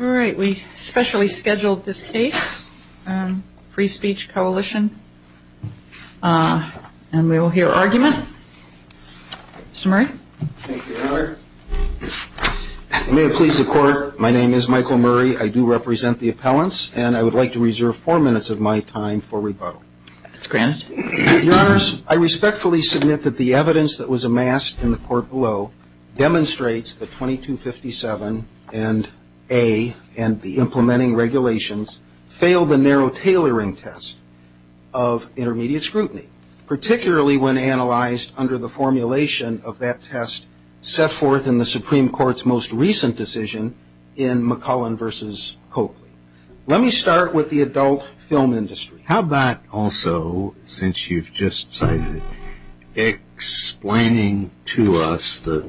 all right we specially scheduled this case free speech coalition and we will hear argument mr. Murray please the court my name is Michael Murray I do represent the appellants and I would like to reserve four minutes of my time for rebuttal that's granted yours I respectfully submit that the evidence that was amassed in the court below demonstrates the 2257 and a and the implementing regulations failed the narrow tailoring test of intermediate scrutiny particularly when analyzed under the formulation of that test set forth in the Supreme Court's most recent decision in McClellan versus Coakley let me start with the adult film industry how about also since you've just cited explaining to us the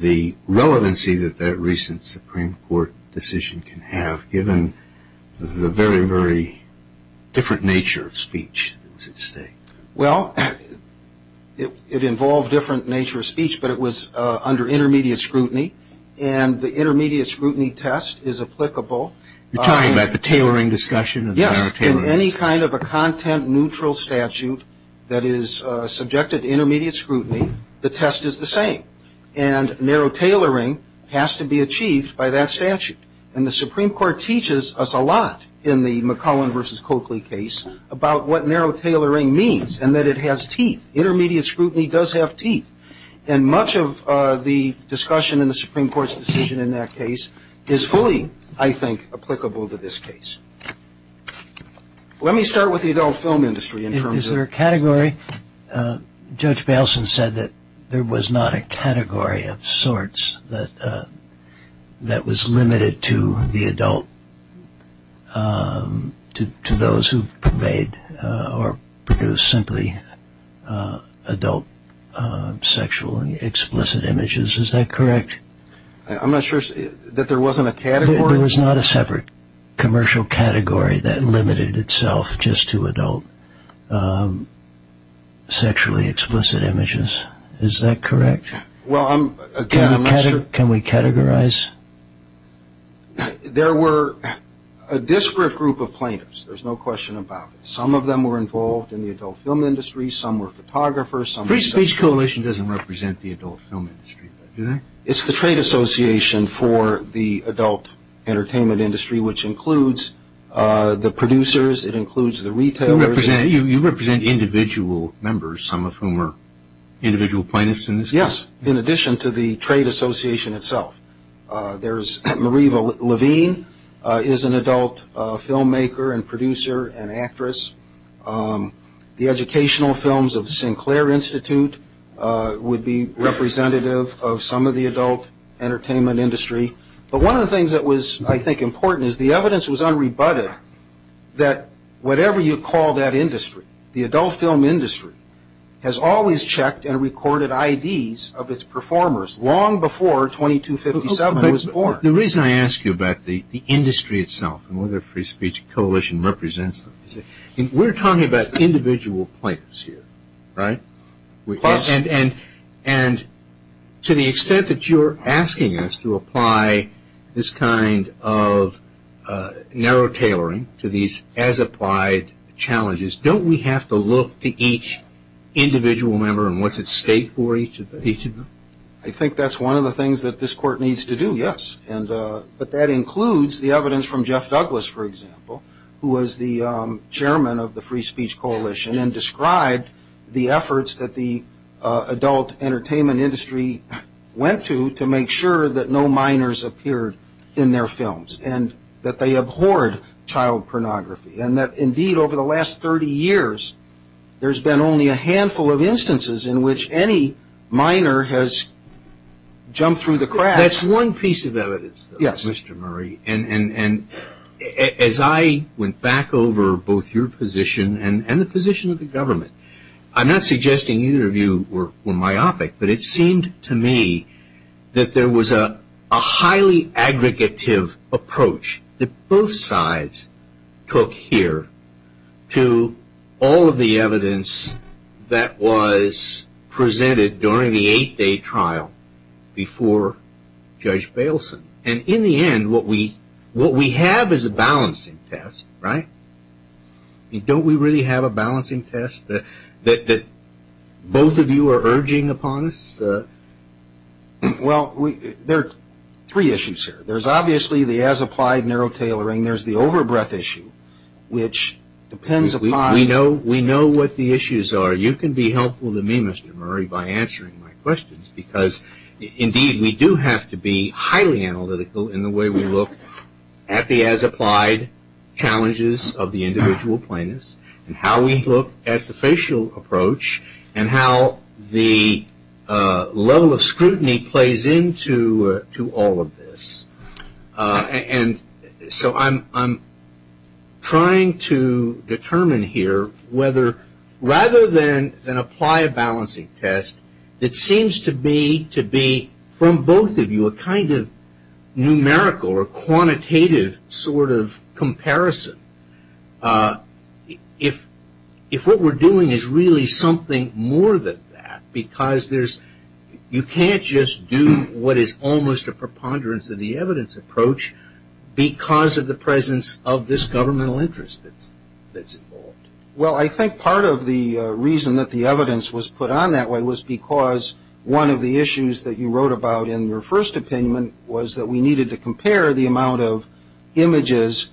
the relevancy that that recent Supreme Court decision can have given the very very different nature of speech well it involved different nature of speech but it was under intermediate scrutiny and the intermediate scrutiny test is applicable you're talking about the tailoring discussion yes in any kind of a content-neutral statute that is subjected intermediate scrutiny the test is the same and narrow tailoring has to be achieved by that statute and the Supreme Court teaches us a lot in the McClellan versus Coakley case about what narrow tailoring means and that it has teeth intermediate scrutiny does have teeth and much of the discussion in the Supreme Court's decision in that case is fully I think applicable to this case let me start with the adult film industry is there a category judge Baleson said that there was not a category of sorts that that was limited to the adult to those who pervade or produce simply adult sexual and explicit images is that correct I'm not sure that there wasn't a category there was not a separate commercial category that limited itself just to adult sexually explicit images is that correct well I'm again I'm not sure can we categorize there were a disparate group of plaintiffs there's no question about it some of them were involved in the adult film industry some were photographers some free speech coalition doesn't represent the adult film industry it's the trade association for the adult entertainment industry which includes the producers it includes the retailers and you represent individual members some of whom are individual plaintiffs in this yes in addition to the trade association itself there's Marie Levine is an adult filmmaker and producer and actress the educational films of Sinclair Institute would be representative of some of the adult entertainment industry but one of the things that was I think important is the evidence was unrebutted that whatever you call that industry the adult film industry has always checked and recorded IDs of its performers long before 2257 was born the reason I ask you about the industry itself and whether free speech coalition represents them we're talking about individual plaintiffs here right and to the extent that you're asking us to apply this kind of narrow tailoring to these as applied challenges don't we have to look to each individual member and what's at stake for each of each of them I think that's one of the things that this court needs to do yes and but that includes the evidence from Jeff Douglas for example who was the chairman of the free speech coalition and described the efforts that the adult entertainment industry went to to make sure that no minors appeared in their films and that they abhorred child pornography and that indeed over the last 30 years there's been only a handful of instances in which any minor has jumped through the cracks one piece of evidence yes mr. Murray and and as I went back over both your position and the position of the government I'm not suggesting either of you were myopic but it seemed to me that there was a highly aggregative approach that both sides took here to all of the evidence that was presented during the eight day trial before judge Baleson and in the end what we what we have is a balancing test right don't we really have a balancing test that that that both of you are urging upon us well we there are three issues here there's obviously the as applied narrow tailoring there's the overbreath issue which depends we know we know what the issues are you can be helpful to me mr. Murray by answering my questions because indeed we do have to be highly analytical in the way we look at the as applied challenges of the individual plaintiffs and how we look at the facial approach and how the level of scrutiny plays into to all of this and so I'm I'm trying to determine here whether rather than then apply a balancing test it seems to be to be from both of you a kind of numerical or quantitative sort of comparison if if what we're doing is really something more than that because there's you can't just do what is almost a preponderance of the evidence approach because of the presence of this governmental interest that's that's involved well I think part of the reason that the evidence was put on that way was because one of the your first opinion was that we needed to compare the amount of images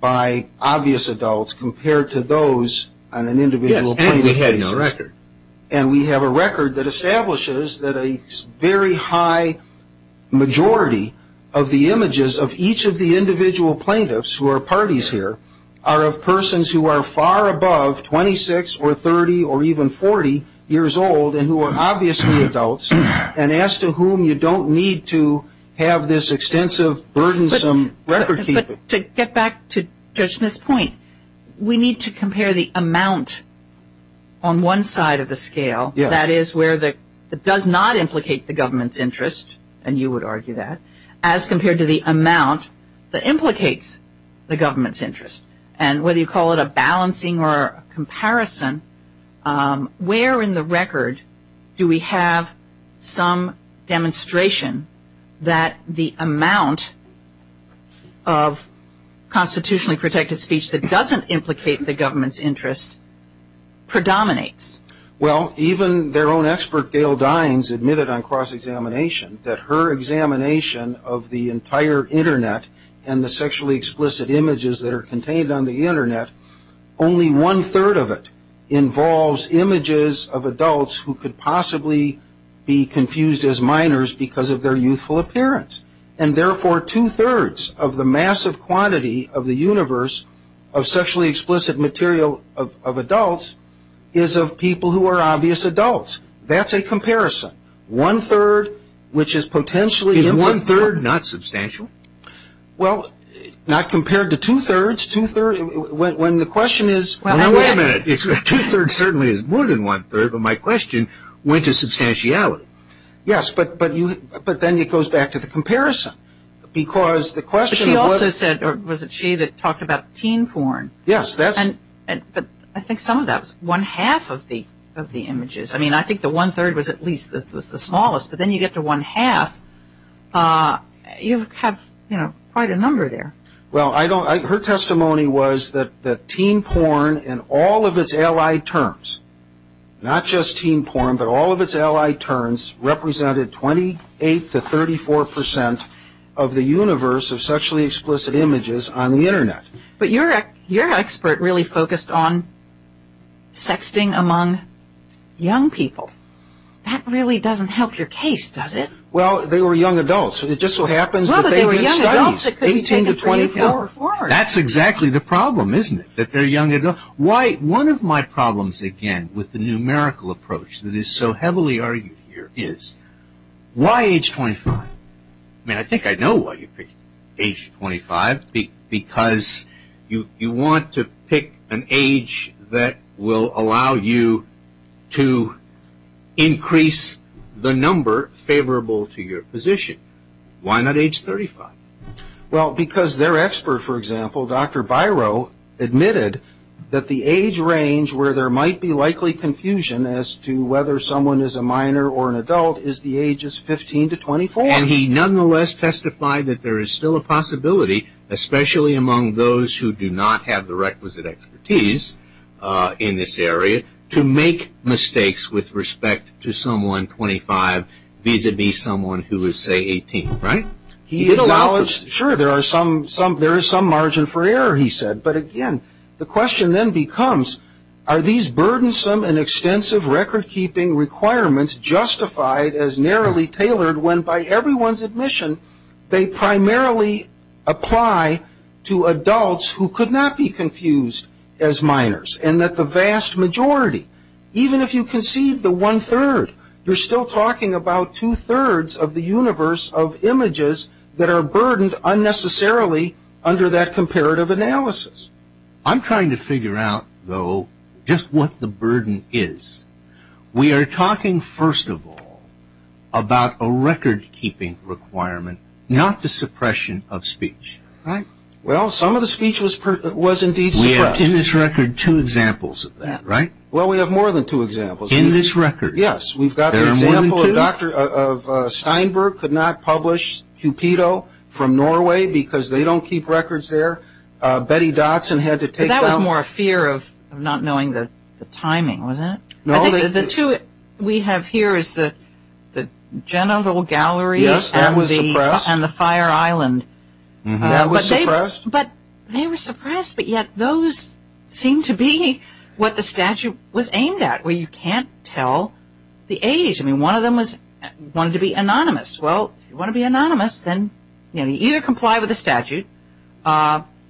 by obvious adults compared to those on an individual record and we have a record that establishes that a very high majority of the images of each of the individual plaintiffs who are parties here are of persons who are far above twenty six or thirty or even forty years old and who are obviously adults and as to whom you don't need to have this extensive burdensome record to get back to this point we need to compare the amount on one side of the scale that is where the does not implicate the government's interest and you would argue that as compared to the amount that implicates the government's interest and whether you call it a balancing or comparison where in the record do we have some demonstration that the amount of constitutionally protected speech that doesn't implicate the government's interest predominates well even their own expert Gail Dines admitted on cross-examination that her examination of the entire internet and the sexually explicit images that are contained on the internet only one-third of it involves images of adults who could possibly be confused as minors because of their youthful appearance and therefore two-thirds of the massive quantity of the universe of sexually explicit material of adults is of people who are obvious adults that's a comparison one-third which is potentially one-third not substantial well not compared to two-thirds two-thirds when the question is certainly is more than one-third of my question went to substantiality yes but but you but then it goes back to the comparison because the question also said or was it she that talked about teen porn yes that's and but I think some of that's one-half of the of the images I mean I think the one-third was at least that was the smallest but then you get to one-half you have you know quite a number there well I don't like her testimony was that the teen porn and all of its ally terms not just teen porn but all of its ally turns represented 28 to 34 percent of the universe of sexually explicit images on the internet but you're at your expert really focused on sexting among young people that really doesn't help your case does it well they were young adults it just so that's exactly the problem isn't it that they're young enough white one of my problems again with the numerical approach that is so heavily argued here is why age 25 I mean I think I know what you pick age 25 because you you want to pick an age that will allow you to increase the number favorable to your position why not age 35 well because they're expert for example dr. Biro admitted that the age range where there might be likely confusion as to whether someone is a minor or an adult is the ages 15 to 24 and he nonetheless testified that there is still a possibility especially among those who do not have the requisite expertise in this area to make mistakes with respect to someone 25 vis-a-vis someone who is say 18 right he acknowledged sure there are some some there is some margin for error he said but again the question then becomes are these burdensome and extensive record-keeping requirements justified as narrowly tailored when by everyone's admission they primarily apply to adults who could not be confused as minors and that the vast majority even if you can see the one-third you're still talking about two-thirds of the universe of images that are burdened unnecessarily under that comparative analysis I'm trying to figure out though just what the burden is we are talking first of all about a record-keeping requirement not the suppression of speech right well some of the speech was was indeed we have in this record two examples of that right well we have more than two examples in this record yes we've got a doctor of Steinberg could not publish Cupido from Norway because they don't keep records there Betty Dotson had to take that was more a fear of not knowing that the timing was it no the two we have here is that the general gallery yes that was a grass and the fire island that was a but they were suppressed but yet those seem to be what the statute was aimed at where you can't tell the age I mean one of them was wanted to be anonymous well you want to be anonymous then you either comply with the statute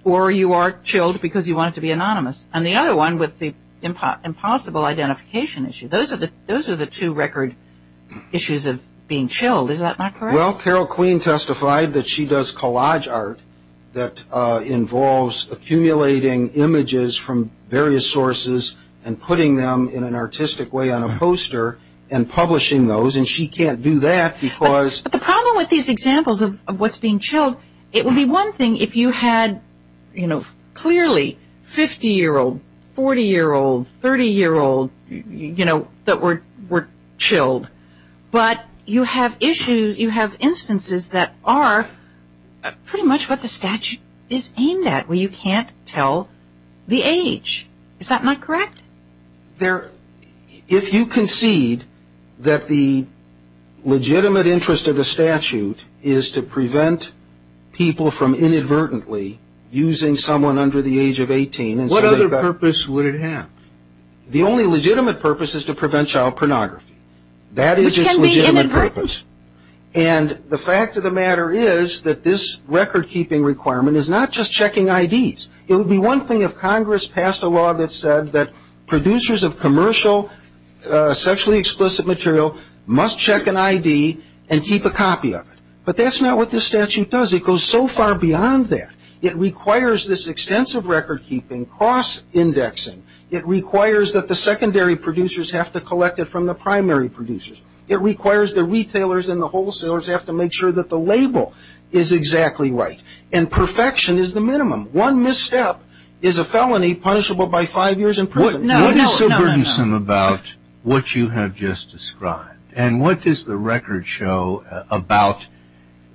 or you are chilled because you wanted to be anonymous and the other one with the impossible identification issue those are the those are the two record issues of being chilled is that not well Carol Queen testified that she does collage art that involves accumulating images from various sources and putting them in an artistic way on a poster and publishing those and she can't do that because the problem with these examples of what's being chilled it would be one thing if you had you know clearly 50 year old 40 year old 30 year old you know that were were chilled but you have issues you have instances that are pretty much what the statute is aimed at where you can't tell the age is that not correct there if you concede that the legitimate interest of the statute is to prevent people from inadvertently using someone under the age of 18 what other purpose would it have the only legitimate purpose is to prevent child this record-keeping requirement is not just checking IDs it would be one thing if Congress passed a law that said that producers of commercial sexually explicit material must check an ID and keep a copy of it but that's not what the statute does it goes so far beyond that it requires this extensive record-keeping cross-indexing it requires that the secondary producers have to collect it from the primary producers it requires the retailers and the wholesalers have to make sure that the label is exactly right and perfection is the minimum one misstep is a felony punishable by five years in prison. What is so burdensome about what you have just described and what does the record show about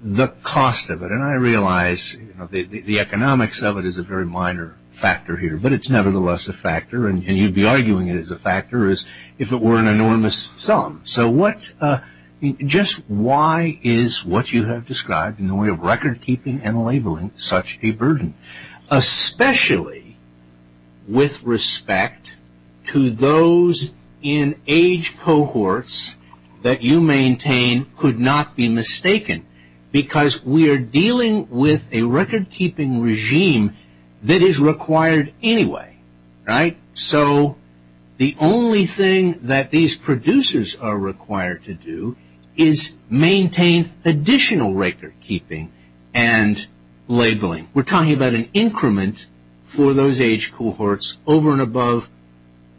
the cost of it and I realize the economics of it is a very minor factor here but it's nevertheless a factor and you'd be arguing it as a burden. Why is what you have described in the way of record-keeping and labeling such a burden especially with respect to those in age cohorts that you maintain could not be mistaken because we are dealing with a record-keeping regime that is required anyway right so the only thing that these producers are required to do is maintain additional record-keeping and labeling we're talking about an increment for those age cohorts over and above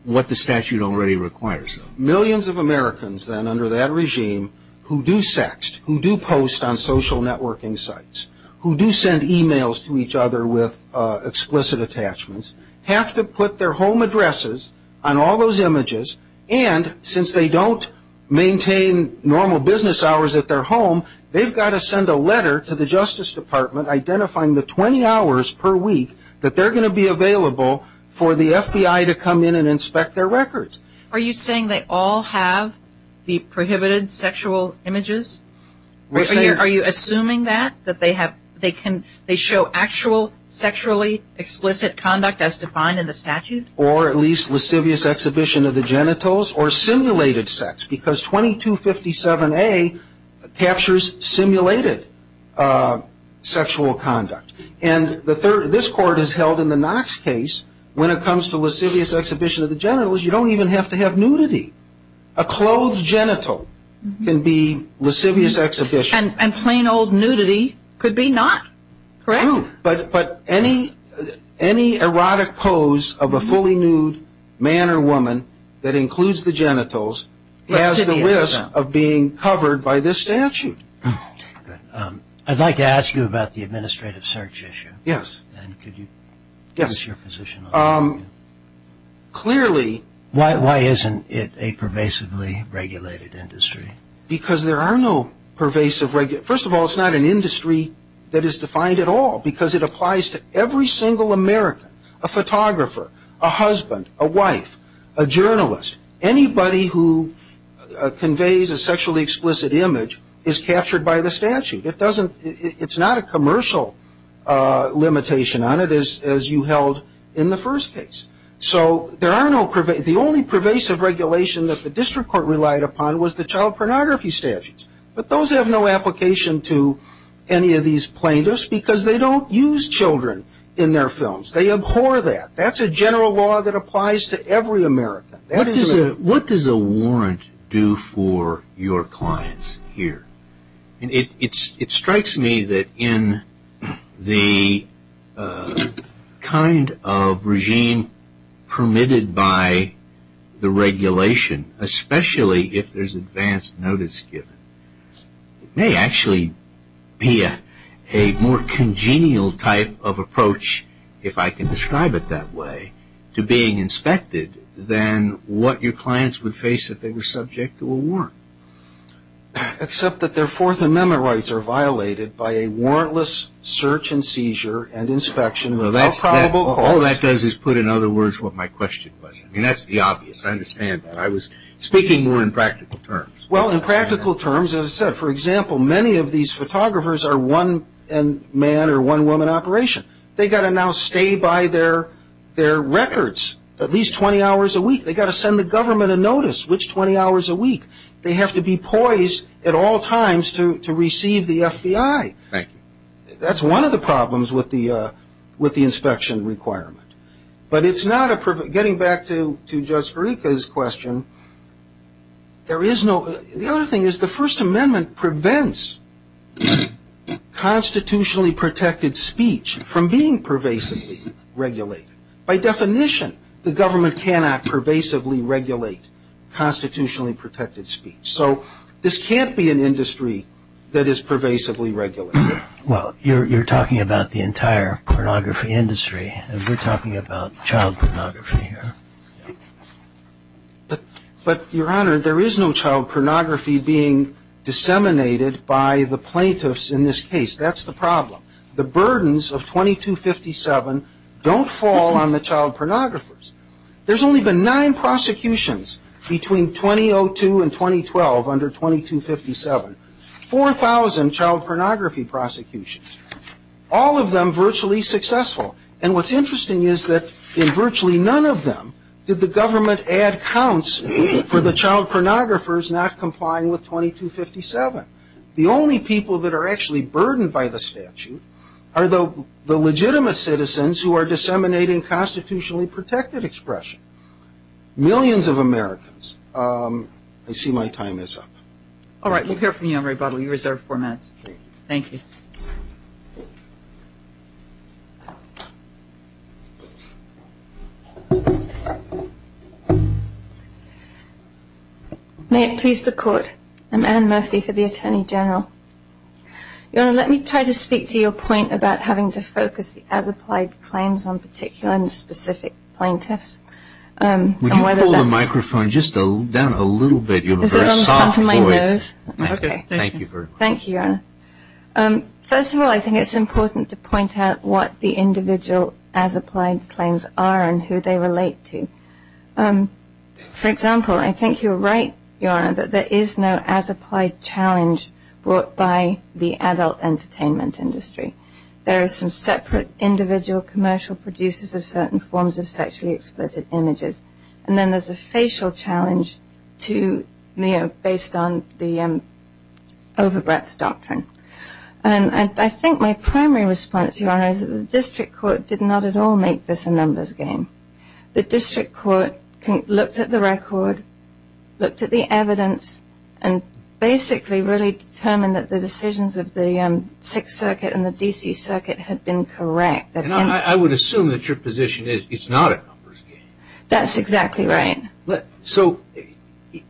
what the statute already requires. Millions of Americans then under that regime who do sext who do post on social networking sites who do send emails to each other with explicit attachments have to put their home addresses on all those images and since they don't maintain normal business hours at their home they've got to send a letter to the Justice Department identifying the 20 hours per week that they're going to be available for the FBI to come in and inspect their records. Are you saying they all have the prohibited sexual images? Are you assuming that that they have they can they show actual sexually explicit conduct as defined in the statute? Or at least lascivious exhibition of the genitals. You don't even have to have nudity. A clothed genital can be lascivious exhibition. And plain old nudity could be not, correct? True, but any erotic pose of a fully nude man or woman that includes the genitals is the risk of being covered by this statute. I'd like to ask you about the administrative search issue. Yes. And could you give us your position on that? Clearly. Why isn't it a pervasively regulated industry? Because there are no pervasive, first of all it's not an industry that is defined at all because it applies to every single American. A photographer, a husband, a wife, a employee who conveys a sexually explicit image is captured by the statute. It doesn't, it's not a commercial limitation on it as you held in the first case. So there are no pervasive, the only pervasive regulation that the district court relied upon was the child pornography statutes. But those have no application to any of these plaintiffs because they don't use children in their films. They abhor that. That's a general law that applies to every American. What does a warrant do for your clients here? It strikes me that in the kind of regime permitted by the regulation, especially if there's advance notice given, it may actually be a more congenial type of approach, if I can imagine what your clients would face if they were subject to a warrant. Except that their Fourth Amendment rights are violated by a warrantless search and seizure and inspection without probable cause. All that does is put in other words what my question was. I mean, that's the obvious. I understand that. I was speaking more in practical terms. Well, in practical terms, as I said, for example, many of these photographers are one man or one woman operation. They've got to now stay by their records at least 20 hours a week. They've got to send the government a notice. Which 20 hours a week? They have to be poised at all times to receive the FBI. Thank you. That's one of the problems with the inspection requirement. But it's not a perv... Getting back to Judge Farika's question, there is no... The other thing is the First Amendment prevents constitutionally protected speech from being pervasively regulated. By definition, the government cannot pervasively regulate constitutionally protected speech. So this can't be an industry that is pervasively regulated. Well, you're talking about the entire pornography industry. We're talking about child pornography here. But, Your Honor, there is no child pornography being disseminated by the child pornographers. There's only been nine prosecutions between 2002 and 2012 under 2257. Four thousand child pornography prosecutions. All of them virtually successful. And what's interesting is that in virtually none of them did the government add counts for the child pornographers not complying with 2257. The only people that are actually burdened by the statute are the legitimate citizens who are disseminating constitutionally protected expression. Millions of Americans. I see my time is up. All right. We'll hear from you on rebuttal. You reserve four minutes. Thank you. May it please the Court. I'm Anne Murphy for the Attorney General. Your Honor, I think it's important to point out what the individual as-applied claims are and who they relate to. For example, I think you're right, Your Honor, that there is no as-applied challenge brought by the adult entertainment industry. There are some separate claims that are brought by commercial producers of certain forms of sexually explicit images. And then there's a facial challenge to, you know, based on the over-breath doctrine. And I think my primary response, Your Honor, is that the district court did not at all make this a numbers game. The district court looked at the record, looked at the evidence, and basically really determined that the decisions of the Sixth Circuit and the D.C. Circuit had been correct. And I would assume that your position is it's not a numbers game. That's exactly right. So,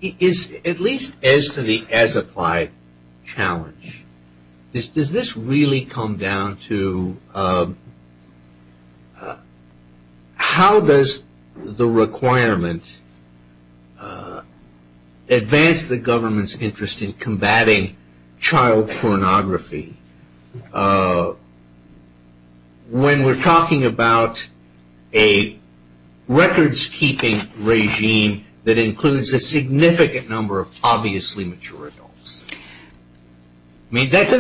at least as to the as-applied challenge, does this really come down to how does the requirement advance the government's interest in combating child pornography when we're talking about a records-keeping regime that includes a significant number of obviously mature adults? I mean, that's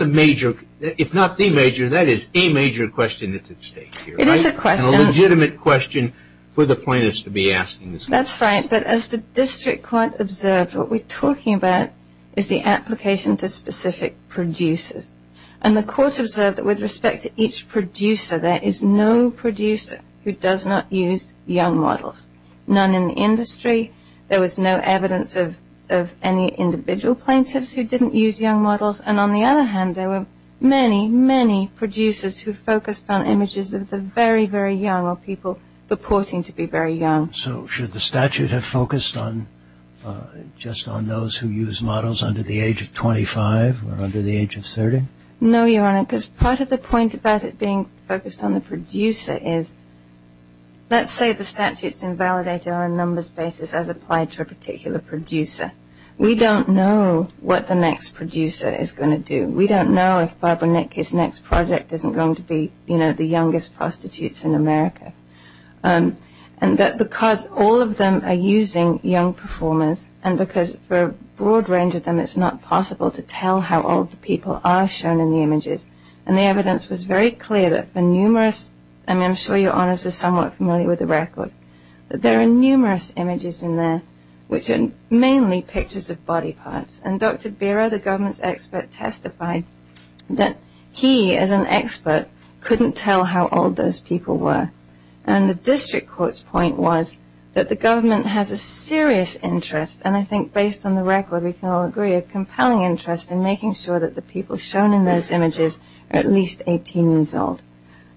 a major, if not the major, that is a major question that's at stake here. It is a question. A legitimate question for the plaintiffs to be asking this question. That's right. But as the district court observed, what we're talking about is the application to specific producers. And the court observed that with respect to each producer, there is no producer who does not use young models. None in the industry. There was no evidence of any individual plaintiffs who didn't use young models. And on the other hand, there were many, many producers who focused on images of the very, very young or people purporting to be very young. So, should the statute have focused on just on those who use models under the age of 25 or under the age of 30? No, Your Honor, because part of the point about it being focused on the producer is, let's say the statute's invalidated on a numbers basis as applied to a particular producer. We don't know what the next producer is going to do. We don't know if Barbara Nicky's next project isn't going to be, you know, the Because all of them are using young performers and because for a broad range of them, it's not possible to tell how old the people are shown in the images. And the evidence was very clear that for numerous, I mean, I'm sure Your Honor's are somewhat familiar with the record, that there are numerous images in there, which are mainly pictures of body parts. And Dr. Bera, the government's expert, testified that he, as an expert, couldn't tell how old those people were. And the district court's point was that the government has a serious interest, and I think based on the record, we can all agree, a compelling interest in making sure that the people shown in those images are at least 18 years old.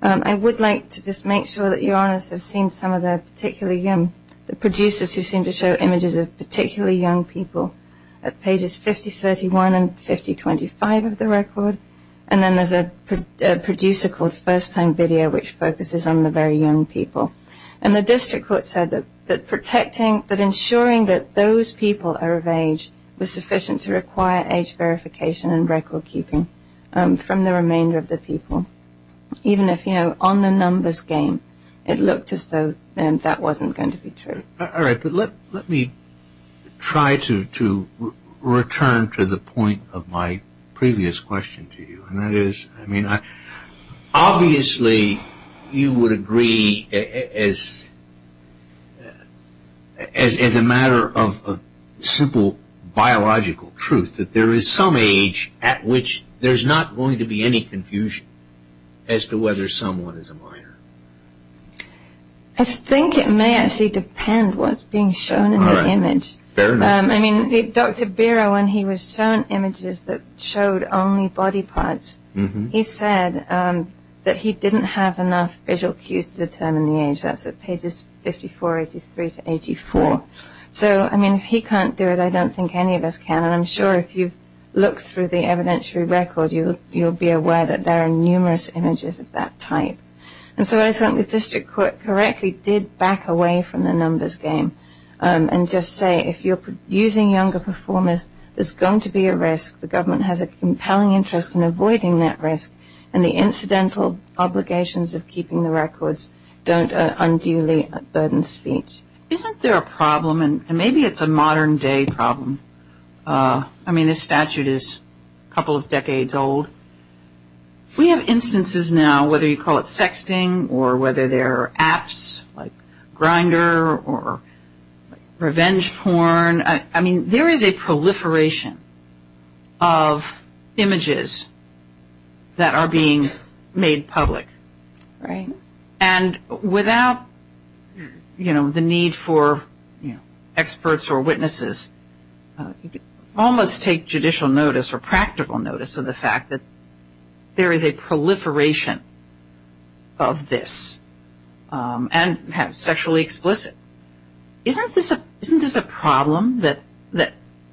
I would like to just make sure that Your Honors have seen some of the particularly young, the producers who seem to show images of particularly young people at pages 5031 and 5025 of the record. And then there's a producer called First Time Video, which focuses on the very young people. And the district court said that protecting, that ensuring that those people are of age was sufficient to require age verification and record keeping from the remainder of the people. Even if, you know, on the numbers game, it looked as though that wasn't going to be true. All right. But let me try to return to the point of my previous question to you. And that is, I mean, obviously you would agree as a matter of simple biological truth that there is some age at which there's not going to be any confusion as to whether someone is a minor. I think it may actually depend what's being shown in the image. Fair enough. I mean, Dr. Bira, when he was shown images that showed only body parts, he said that he didn't have enough visual cues to determine the age. That's at pages 5483 to 84. So, I mean, if he can't do it, I don't think any of us can. And I'm sure if you look through the evidentiary record, you'll be aware that there are numerous images of that type. And so I think the district court correctly did back away from the numbers game and just say, if you're using younger performers, there's going to be a risk. The government has a compelling interest in avoiding that risk. And the incidental obligations of keeping the records don't unduly burden speech. Isn't there a problem, and maybe it's a modern day problem. I mean, this statute is a couple of decades old. We have instances now, whether you call it revenge porn. I mean, there is a proliferation of images that are being made public. Right. And without, you know, the need for experts or witnesses, almost take judicial notice or practical notice of the fact that there is a proliferation of this. And have sexually explicit. Isn't this a problem that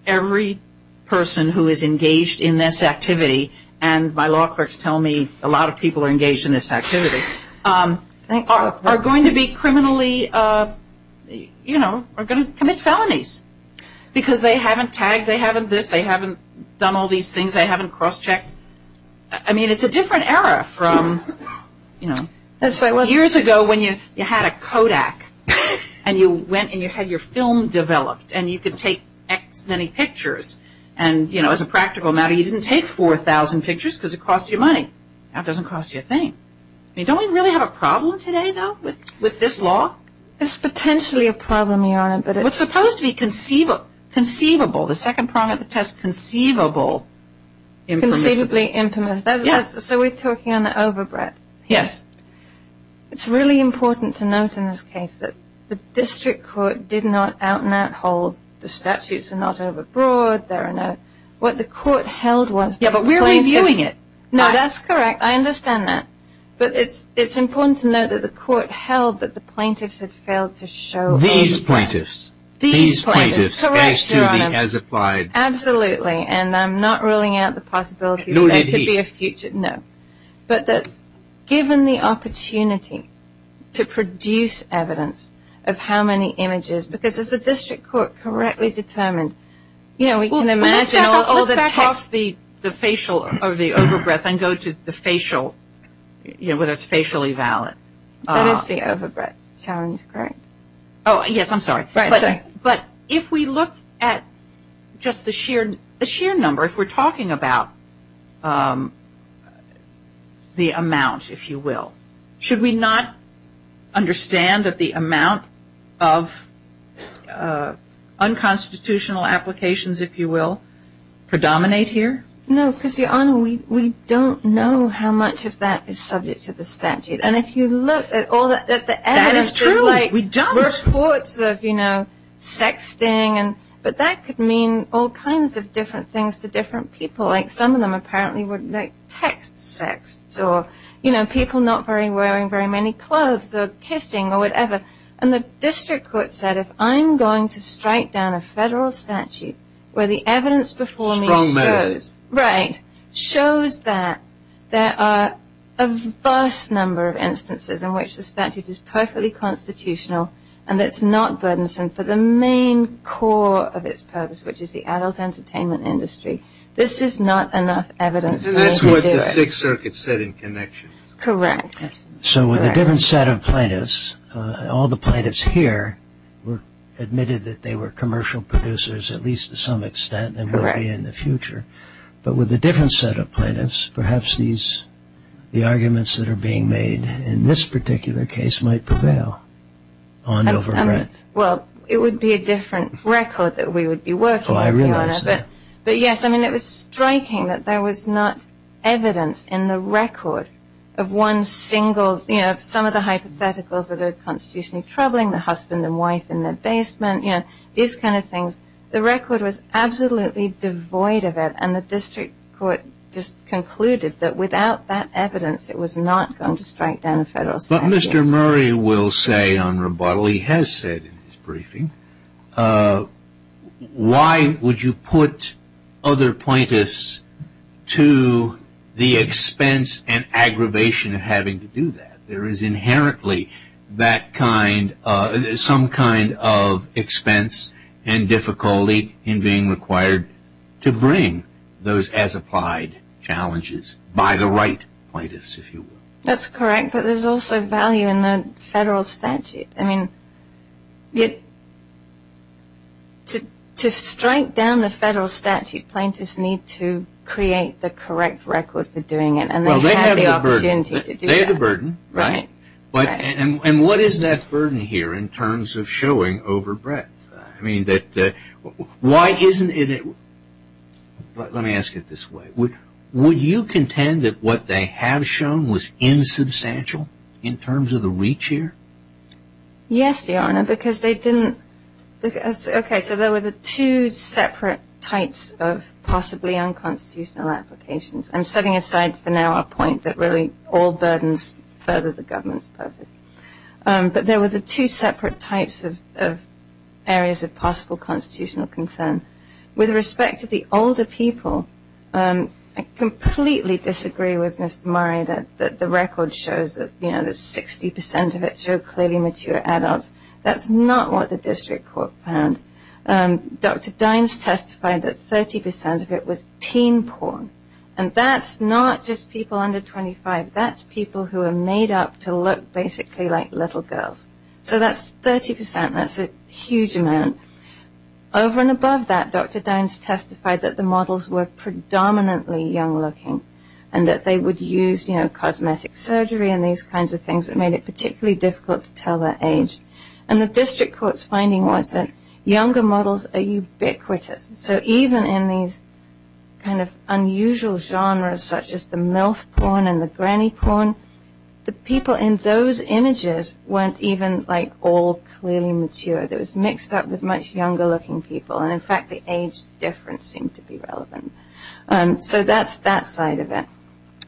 every person who is engaged in this activity, and my law clerks tell me a lot of people are engaged in this activity, are going to be criminally, you know, are going to commit felonies. Because they haven't tagged, they haven't this, they haven't done all these things, they haven't cross checked. I mean, it's a different era from, you know. Years ago when you had a Kodak and you went and you had your film developed and you could take X many pictures and, you know, as a practical matter, you didn't take 4,000 pictures because it cost you money. Now it doesn't cost you a thing. I mean, don't we really have a problem today, though, with this law? It's potentially a problem, Your Honor, but it's It's supposed to be conceivable. The second part of the test, conceivable. Inconceivably infamous. So we're talking on the overbreadth. Yes. It's really important to note in this case that the district court did not out and out hold, the statutes are not overbroad, there are no, what the court held was Yeah, but we're reviewing it. No, that's correct. I understand that. But it's, it's important to note that the court held that the plaintiffs had failed to show These plaintiffs, these plaintiffs, as to the as applied Absolutely. And I'm not ruling out the possibility that could be a future. No, but that given the opportunity to produce evidence of how many images, because as the district court correctly determined, you know, we can imagine Well, let's back up, let's back up. All the text, the facial or the overbreadth and go to the facial, you know, whether it's facially valid. That is the overbreadth challenge, correct? Oh, yes. I'm sorry. But if we look at just the sheer, the sheer number, if we're talking about, um, the amount, if you will, should we not understand that the amount of, uh, unconstitutional applications, if you will, predominate here? No, because Your Honor, we, we don't know how much of that is subject to the statute. And if you look at all that, that the reports of, you know, sexting and, but that could mean all kinds of different things to different people. Like some of them apparently would like text sexts or, you know, people not very wearing very many clothes or kissing or whatever. And the district court said, if I'm going to strike down a federal statute where the evidence before me shows that there are a vast number of And it's not burdensome for the main core of its purpose, which is the adult entertainment industry. This is not enough evidence. And that's what the Sixth Circuit said in connection. Correct. So with a different set of plaintiffs, uh, all the plaintiffs here were admitted that they were commercial producers, at least to some extent, and will be in the future. But with a different set of plaintiffs, perhaps these, the arguments that are being made in this particular case might prevail on overgrowth. Well, it would be a different record that we would be working on, but yes, I mean, it was striking that there was not evidence in the record of one single, you know, some of the hypotheticals that are constitutionally troubling, the husband and wife in their basement, you know, these kinds of things. The record was absolutely devoid of it. And the district court just concluded that without that we're not going to strike down a federal statute. But Mr. Murray will say on rebuttal, he has said in his briefing, uh, why would you put other plaintiffs to the expense and aggravation of having to do that? There is inherently that kind, uh, some kind of expense and difficulty in being required to bring those as applied challenges by the right plaintiffs, if you will. That's correct. But there's also value in the federal statute. I mean, to strike down the federal statute, plaintiffs need to create the correct record for doing it. And they have the opportunity to do that. Well, they have the burden, right? And what is that burden here in terms of Why isn't it, let me ask it this way. Would you contend that what they have shown was insubstantial in terms of the reach here? Yes, Your Honor, because they didn't, okay, so there were the two separate types of possibly unconstitutional applications. I'm setting aside for now our point that really all burdens further the government's purpose. Um, but there were the two separate types of, of areas of possible constitutional concern. With respect to the older people, um, I completely disagree with Mr. Murray that, that the record shows that, you know, that 60% of it show clearly mature adults. That's not what the district court found. Um, Dr. Dines testified that 30% of it was teen porn. And that's not just people under 25. That's people who are made up to look basically like little girls. So that's 30%. That's a huge amount. Over and above that, Dr. Dines testified that the models were predominantly young looking and that they would use, you know, cosmetic surgery and these kinds of things that made it particularly difficult to tell their age. And the district court's finding was that younger models are ubiquitous. So even in these kind of unusual genres such as the MILF porn and the granny porn, the people in those images weren't even like all clearly mature. It was mixed up with much younger looking people. And in fact, the age difference seemed to be relevant. Um, so that's that side of it.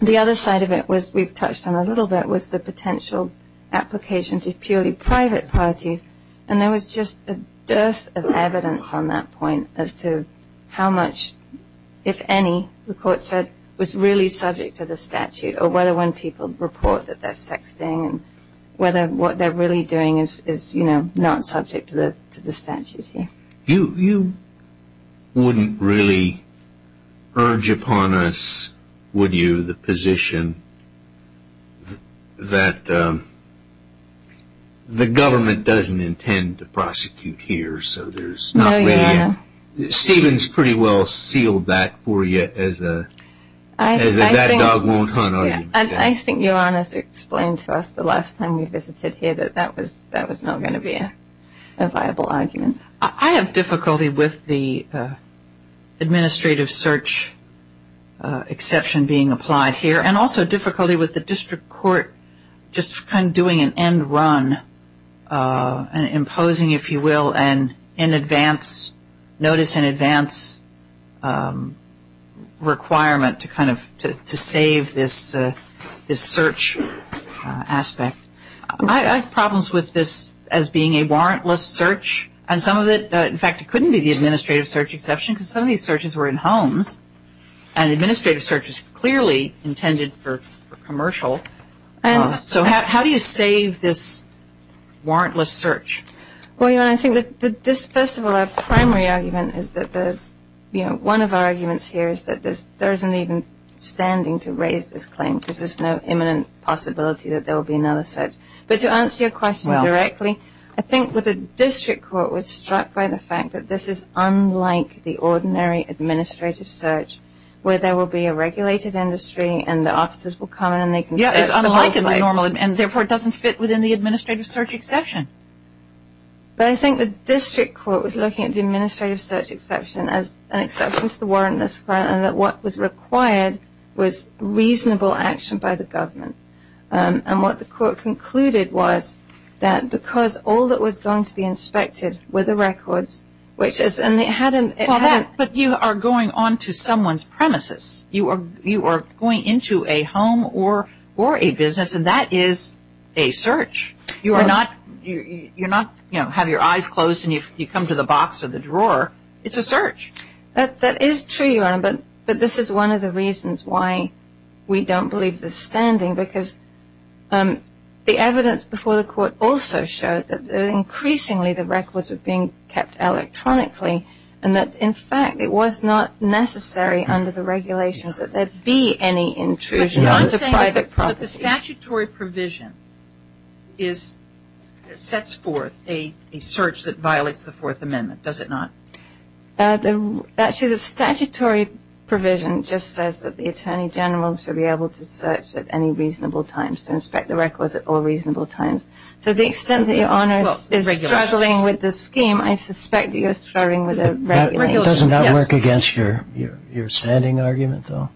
The other side of it was, we've touched on a little bit, was the potential application to purely private parties. And there was just a dearth of evidence on that point as to how much, if any, the court said was really subject to the statute or whether when people report that they're sexting and whether what they're really doing is, you know, not subject to the statute here. You wouldn't really urge upon us, would you, the position that the government doesn't intend to prosecute here? So there's not really a... No, Your Honor. Stephen's pretty well sealed that for you as a that-dog-won't-hunt argument. I think Your Honor's explained to us the last time we visited here that that was not going to be a viable argument. I have difficulty with the administrative search exception being applied here and also difficulty with the district court just kind of doing an end-run and imposing, if you will, an in-advance, notice-in-advance requirement to kind of to save this search aspect. I have problems with this as being a warrantless search and some of it, in fact, it couldn't be the administrative search exception because some of these searches were in homes and the administrative search is clearly intended for commercial. So how do you save this warrantless search? Well, Your Honor, I think that this, first of all, our primary argument is that one of our arguments here is that there isn't even standing to raise this claim because there's no imminent possibility that there will be another search. But to answer your question directly, I think that the district court was struck by the fact that this is unlike the ordinary administrative search where there will be a regulated industry and the officers will come in and they can search the whole place. Yes, it's unlike the normal and, therefore, it doesn't fit within the administrative search exception. But I think the district court was looking at the administrative search exception as an exception to the warrantless requirement and that what was required was reasonable action by the government. And what the court concluded was that because all that was going to be inspected were the records, which is, and it hadn't But you are going on to someone's premises. You are going into a home or a business, and that is a search. You are not, you know, have your eyes closed and you come to the box or the drawer. It's a search. That is true, Your Honor, but this is one of the reasons why we don't believe the standing because the evidence before the court also showed that increasingly the records were being kept electronically and that, in fact, it was not necessary under the regulations that there be any intrusion onto private property. But I'm saying that the statutory provision is, sets forth a search that violates the Fourth Amendment, does it not? Actually, the statutory provision just says that the Attorney General should be able to search at any reasonable times, to inspect the records at all reasonable times. So the extent that Your Honor is struggling with the scheme, I suspect that you are struggling with the regulations. It does not work against your standing argument, though.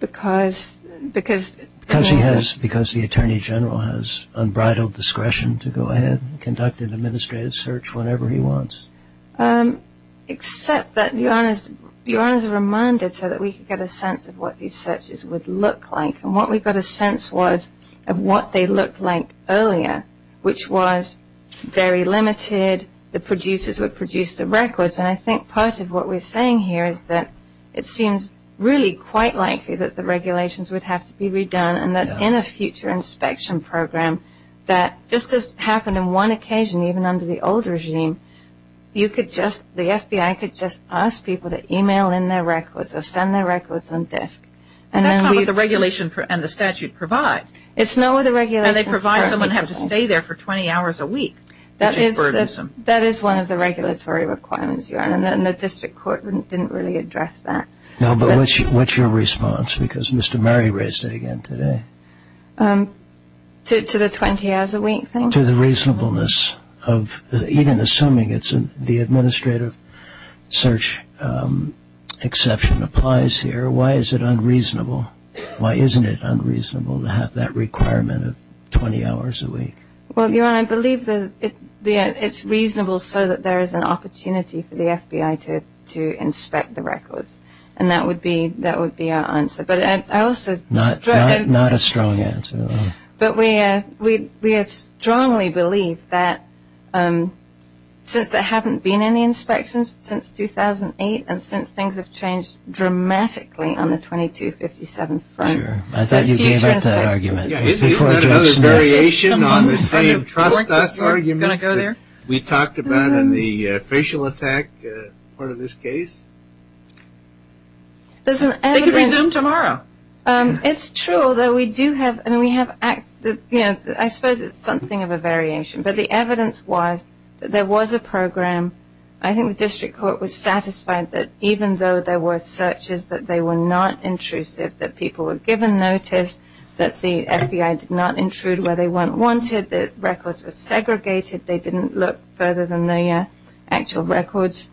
Because? Because the Attorney General has unbridled discretion to go ahead and conduct an administrative search whenever he wants. Except that Your Honor is reminded so that we can get a sense of what these searches would look like and what we've got a sense was of what they looked like earlier, which was very limited, the producers would produce the records. And I think part of what we're saying here is that it seems really quite likely that the regulations would have to be redone and that in a future inspection program that just has happened on one occasion, even under the old regime, you could just, the FBI could just ask people to e-mail in their records or send their records on disk. That's not what the regulation and the statute provide. It's not what the regulations provide. And they provide someone has to stay there for 20 hours a week, which is burdensome. That is one of the regulatory requirements, Your Honor, and the district court didn't really address that. No, but what's your response? Because Mr. Murray raised it again today. To the 20 hours a week thing? To the reasonableness of even assuming the administrative search exception applies here, why is it unreasonable? Why isn't it unreasonable to have that requirement of 20 hours a week? Well, Your Honor, I believe it's reasonable so that there is an opportunity for the FBI to inspect the records, and that would be our answer. Not a strong answer. But we strongly believe that since there haven't been any inspections since 2008 and since things have changed dramatically on the 2257 front. I thought you gave up that argument. Isn't that another variation on the same trust us argument we talked about in the facial attack part of this case? They could resume tomorrow. It's true, although I suppose it's something of a variation. But the evidence was that there was a program. I think the district court was satisfied that even though there were searches, that they were not intrusive, that people were given notice, that the FBI did not intrude where they weren't wanted, that records were segregated, they didn't look further than the actual records.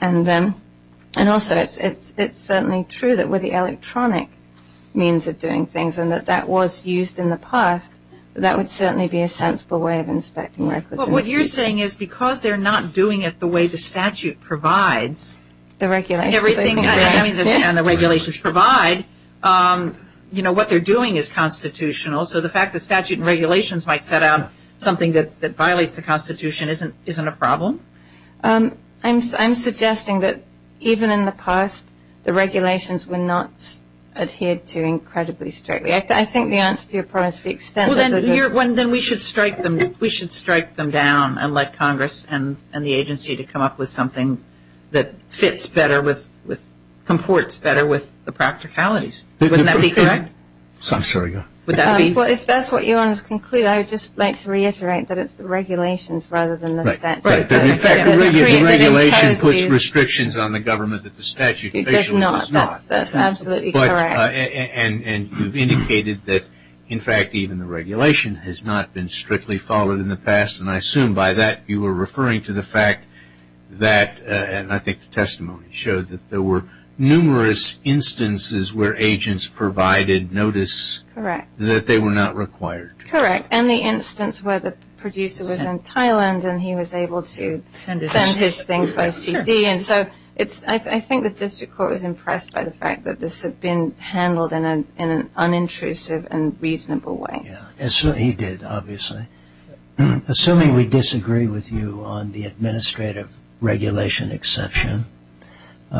And also it's certainly true that with the electronic means of doing things and that that was used in the past, that would certainly be a sensible way of inspecting records. But what you're saying is because they're not doing it the way the statute provides, and the regulations provide, you know, what they're doing is constitutional. So the fact that statute and regulations might set out something that violates the Constitution isn't a problem? I'm suggesting that even in the past, the regulations were not adhered to incredibly strictly. I think the answer to your problem is the extent that there's a... Well, then we should strike them down and let Congress and the agency to come up with something that fits better with, comports better with the practicalities. Wouldn't that be correct? I'm sorry, go ahead. Well, if that's what you want to conclude, I would just like to reiterate that it's the regulations rather than the statute. In fact, the regulation puts restrictions on the government that the statute basically does not. That's absolutely correct. And you've indicated that, in fact, even the regulation has not been strictly followed in the past, and I assume by that you were referring to the fact that, and I think the testimony showed that, there were numerous instances where agents provided notice that they were not required. Correct. And the instance where the producer was in Thailand and he was able to send his things by CD. And so I think the district court was impressed by the fact that this had been handled in an unintrusive and reasonable way. Yes, he did, obviously. Assuming we disagree with you on the administrative regulation exception,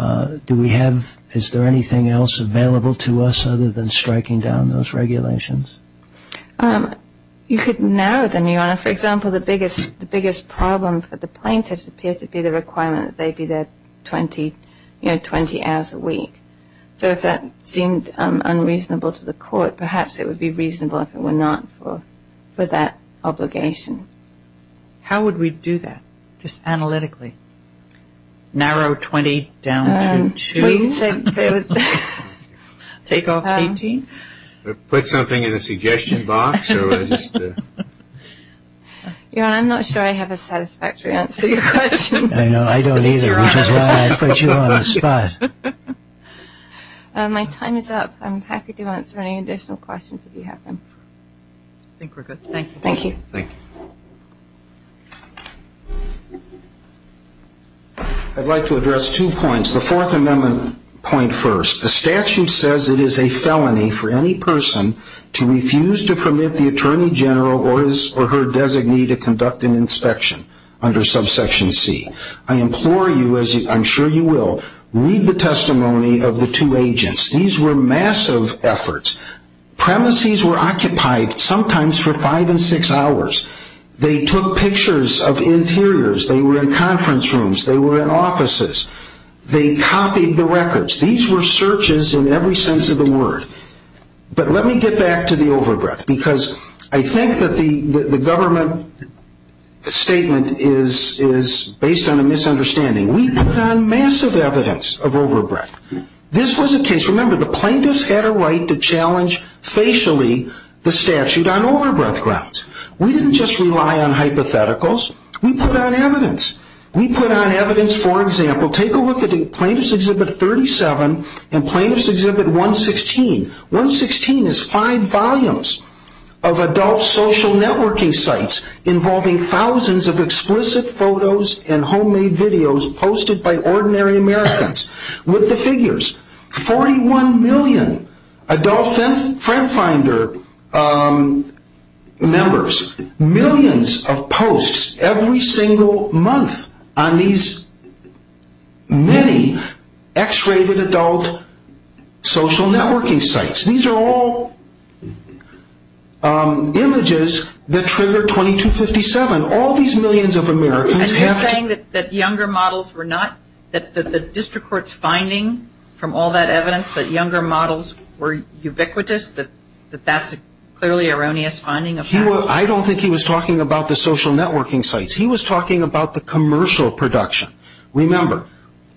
do we have, is there anything else available to us other than striking down those regulations? You could narrow them, Your Honor. For example, the biggest problem for the plaintiffs appears to be the requirement that they be there 20 hours a week. So if that seemed unreasonable to the court, perhaps it would be reasonable if it were not for that obligation. How would we do that, just analytically? Narrow 20 down to two? Well, you said there was... Take off 18? Put something in the suggestion box or just... Your Honor, I'm not sure I have a satisfactory answer to your question. I know, I don't either, which is why I put you on the spot. My time is up. I'm happy to answer any additional questions if you have them. I think we're good. Thank you. Thank you. I'd like to address two points. The Fourth Amendment point first. The statute says it is a felony for any person to refuse to permit the Attorney General or her designee to conduct an inspection under subsection C. I implore you, as I'm sure you will, read the testimony of the two agents. These were massive efforts. Premises were occupied sometimes for five and six hours. They took pictures of interiors. They were in conference rooms. They were in offices. They copied the records. These were searches in every sense of the word. But let me get back to the overbreath because I think that the government statement is based on a misunderstanding. We put on massive evidence of overbreath. This was a case, remember, the plaintiffs had a right to challenge facially the statute on overbreath grounds. We didn't just rely on hypotheticals. We put on evidence. We put on evidence, for example, take a look at Plaintiffs' Exhibit 37 and Plaintiffs' Exhibit 116. 116 is five volumes of adult social networking sites involving thousands of explicit photos and homemade videos posted by ordinary Americans. With the figures, 41 million adult FriendFinder members, millions of posts every single month on these many X-rated adult social networking sites. These are all images that trigger 2257. All these millions of Americans have to... from all that evidence that younger models were ubiquitous, that that's clearly an erroneous finding. I don't think he was talking about the social networking sites. He was talking about the commercial production. Remember,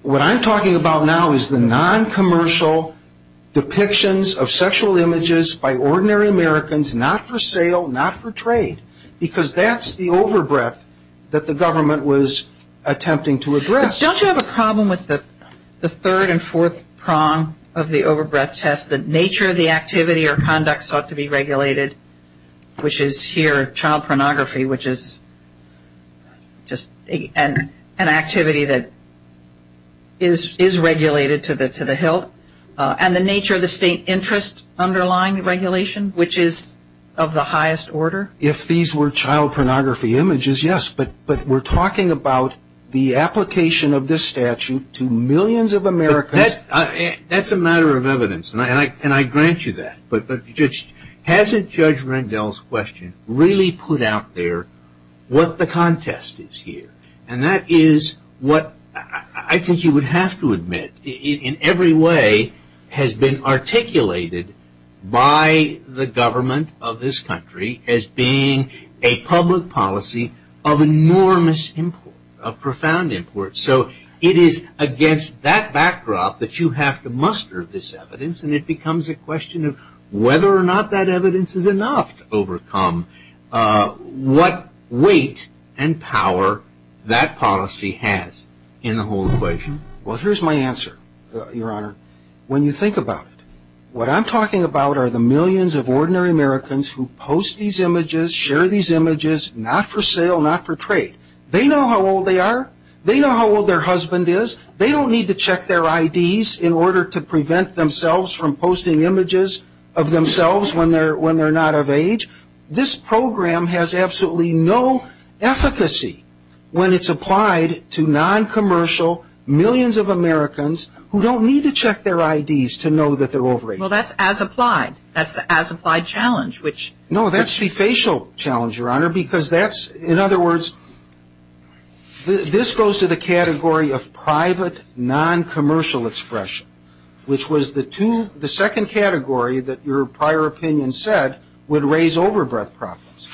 what I'm talking about now is the noncommercial depictions of sexual images by ordinary Americans, not for sale, not for trade. Because that's the overbreath that the government was attempting to address. Don't you have a problem with the third and fourth prong of the overbreath test, the nature of the activity or conduct sought to be regulated, which is here child pornography, which is just an activity that is regulated to the hilt, and the nature of the state interest underlying regulation, which is of the highest order? If these were child pornography images, yes, but we're talking about the application of this statute to millions of Americans. That's a matter of evidence, and I grant you that. But hasn't Judge Rendell's question really put out there what the contest is here? And that is what I think you would have to admit in every way has been articulated by the government of this country as being a public policy of enormous import, of profound import. So it is against that backdrop that you have to muster this evidence, and it becomes a question of whether or not that evidence is enough to overcome what weight and power that policy has in the whole equation. Well, here's my answer, Your Honor. When you think about it, what I'm talking about are the millions of ordinary Americans who post these images, share these images, not for sale, not for trade. They know how old they are. They know how old their husband is. They don't need to check their IDs in order to prevent themselves from posting images of themselves when they're not of age. This program has absolutely no efficacy when it's applied to noncommercial millions of Americans who don't need to check their IDs to know that they're over age. Well, that's as applied. That's the as applied challenge. No, that's the facial challenge, Your Honor, because that's, in other words, this goes to the category of private noncommercial expression, which was the second category that your prior opinion said would raise overbreath problems.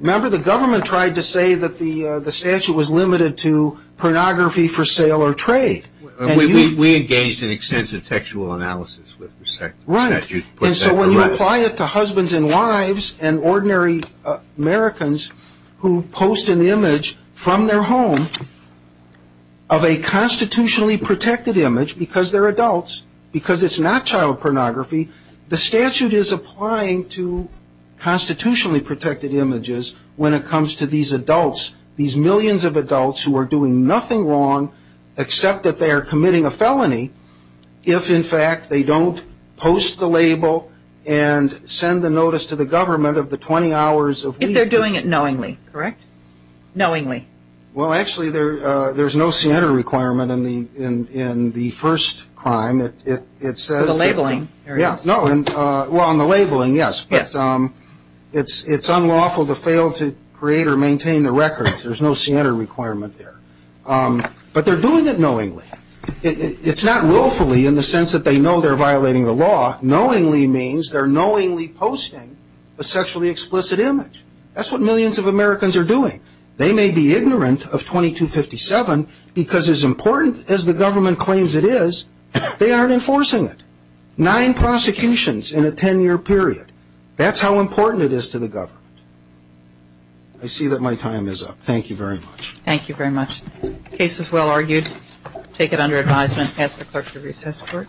Remember the government tried to say that the statute was limited to pornography for sale or trade. We engaged in extensive textual analysis with respect to the statute. Right. And so when you apply it to husbands and wives and ordinary Americans who post an image from their home of a constitutionally protected image because they're adults, because it's not child pornography, the statute is applying to constitutionally protected images when it comes to these adults, these millions of adults who are doing nothing wrong except that they are committing a felony if, in fact, they don't post the label and send the notice to the government of the 20 hours of leave. If they're doing it knowingly, correct? Knowingly. Well, actually, there's no CNR requirement in the first crime. The labeling. Yes. Well, on the labeling, yes, but it's unlawful to fail to create or maintain the records. There's no CNR requirement there. But they're doing it knowingly. It's not willfully in the sense that they know they're violating the law. Knowingly means they're knowingly posting a sexually explicit image. That's what millions of Americans are doing. They may be ignorant of 2257 because as important as the government claims it is, they aren't enforcing it. Nine prosecutions in a 10-year period. That's how important it is to the government. I see that my time is up. Thank you very much. Thank you very much. Case is well argued. Take it under advisement. Pass the clerk to recess court. Thank you.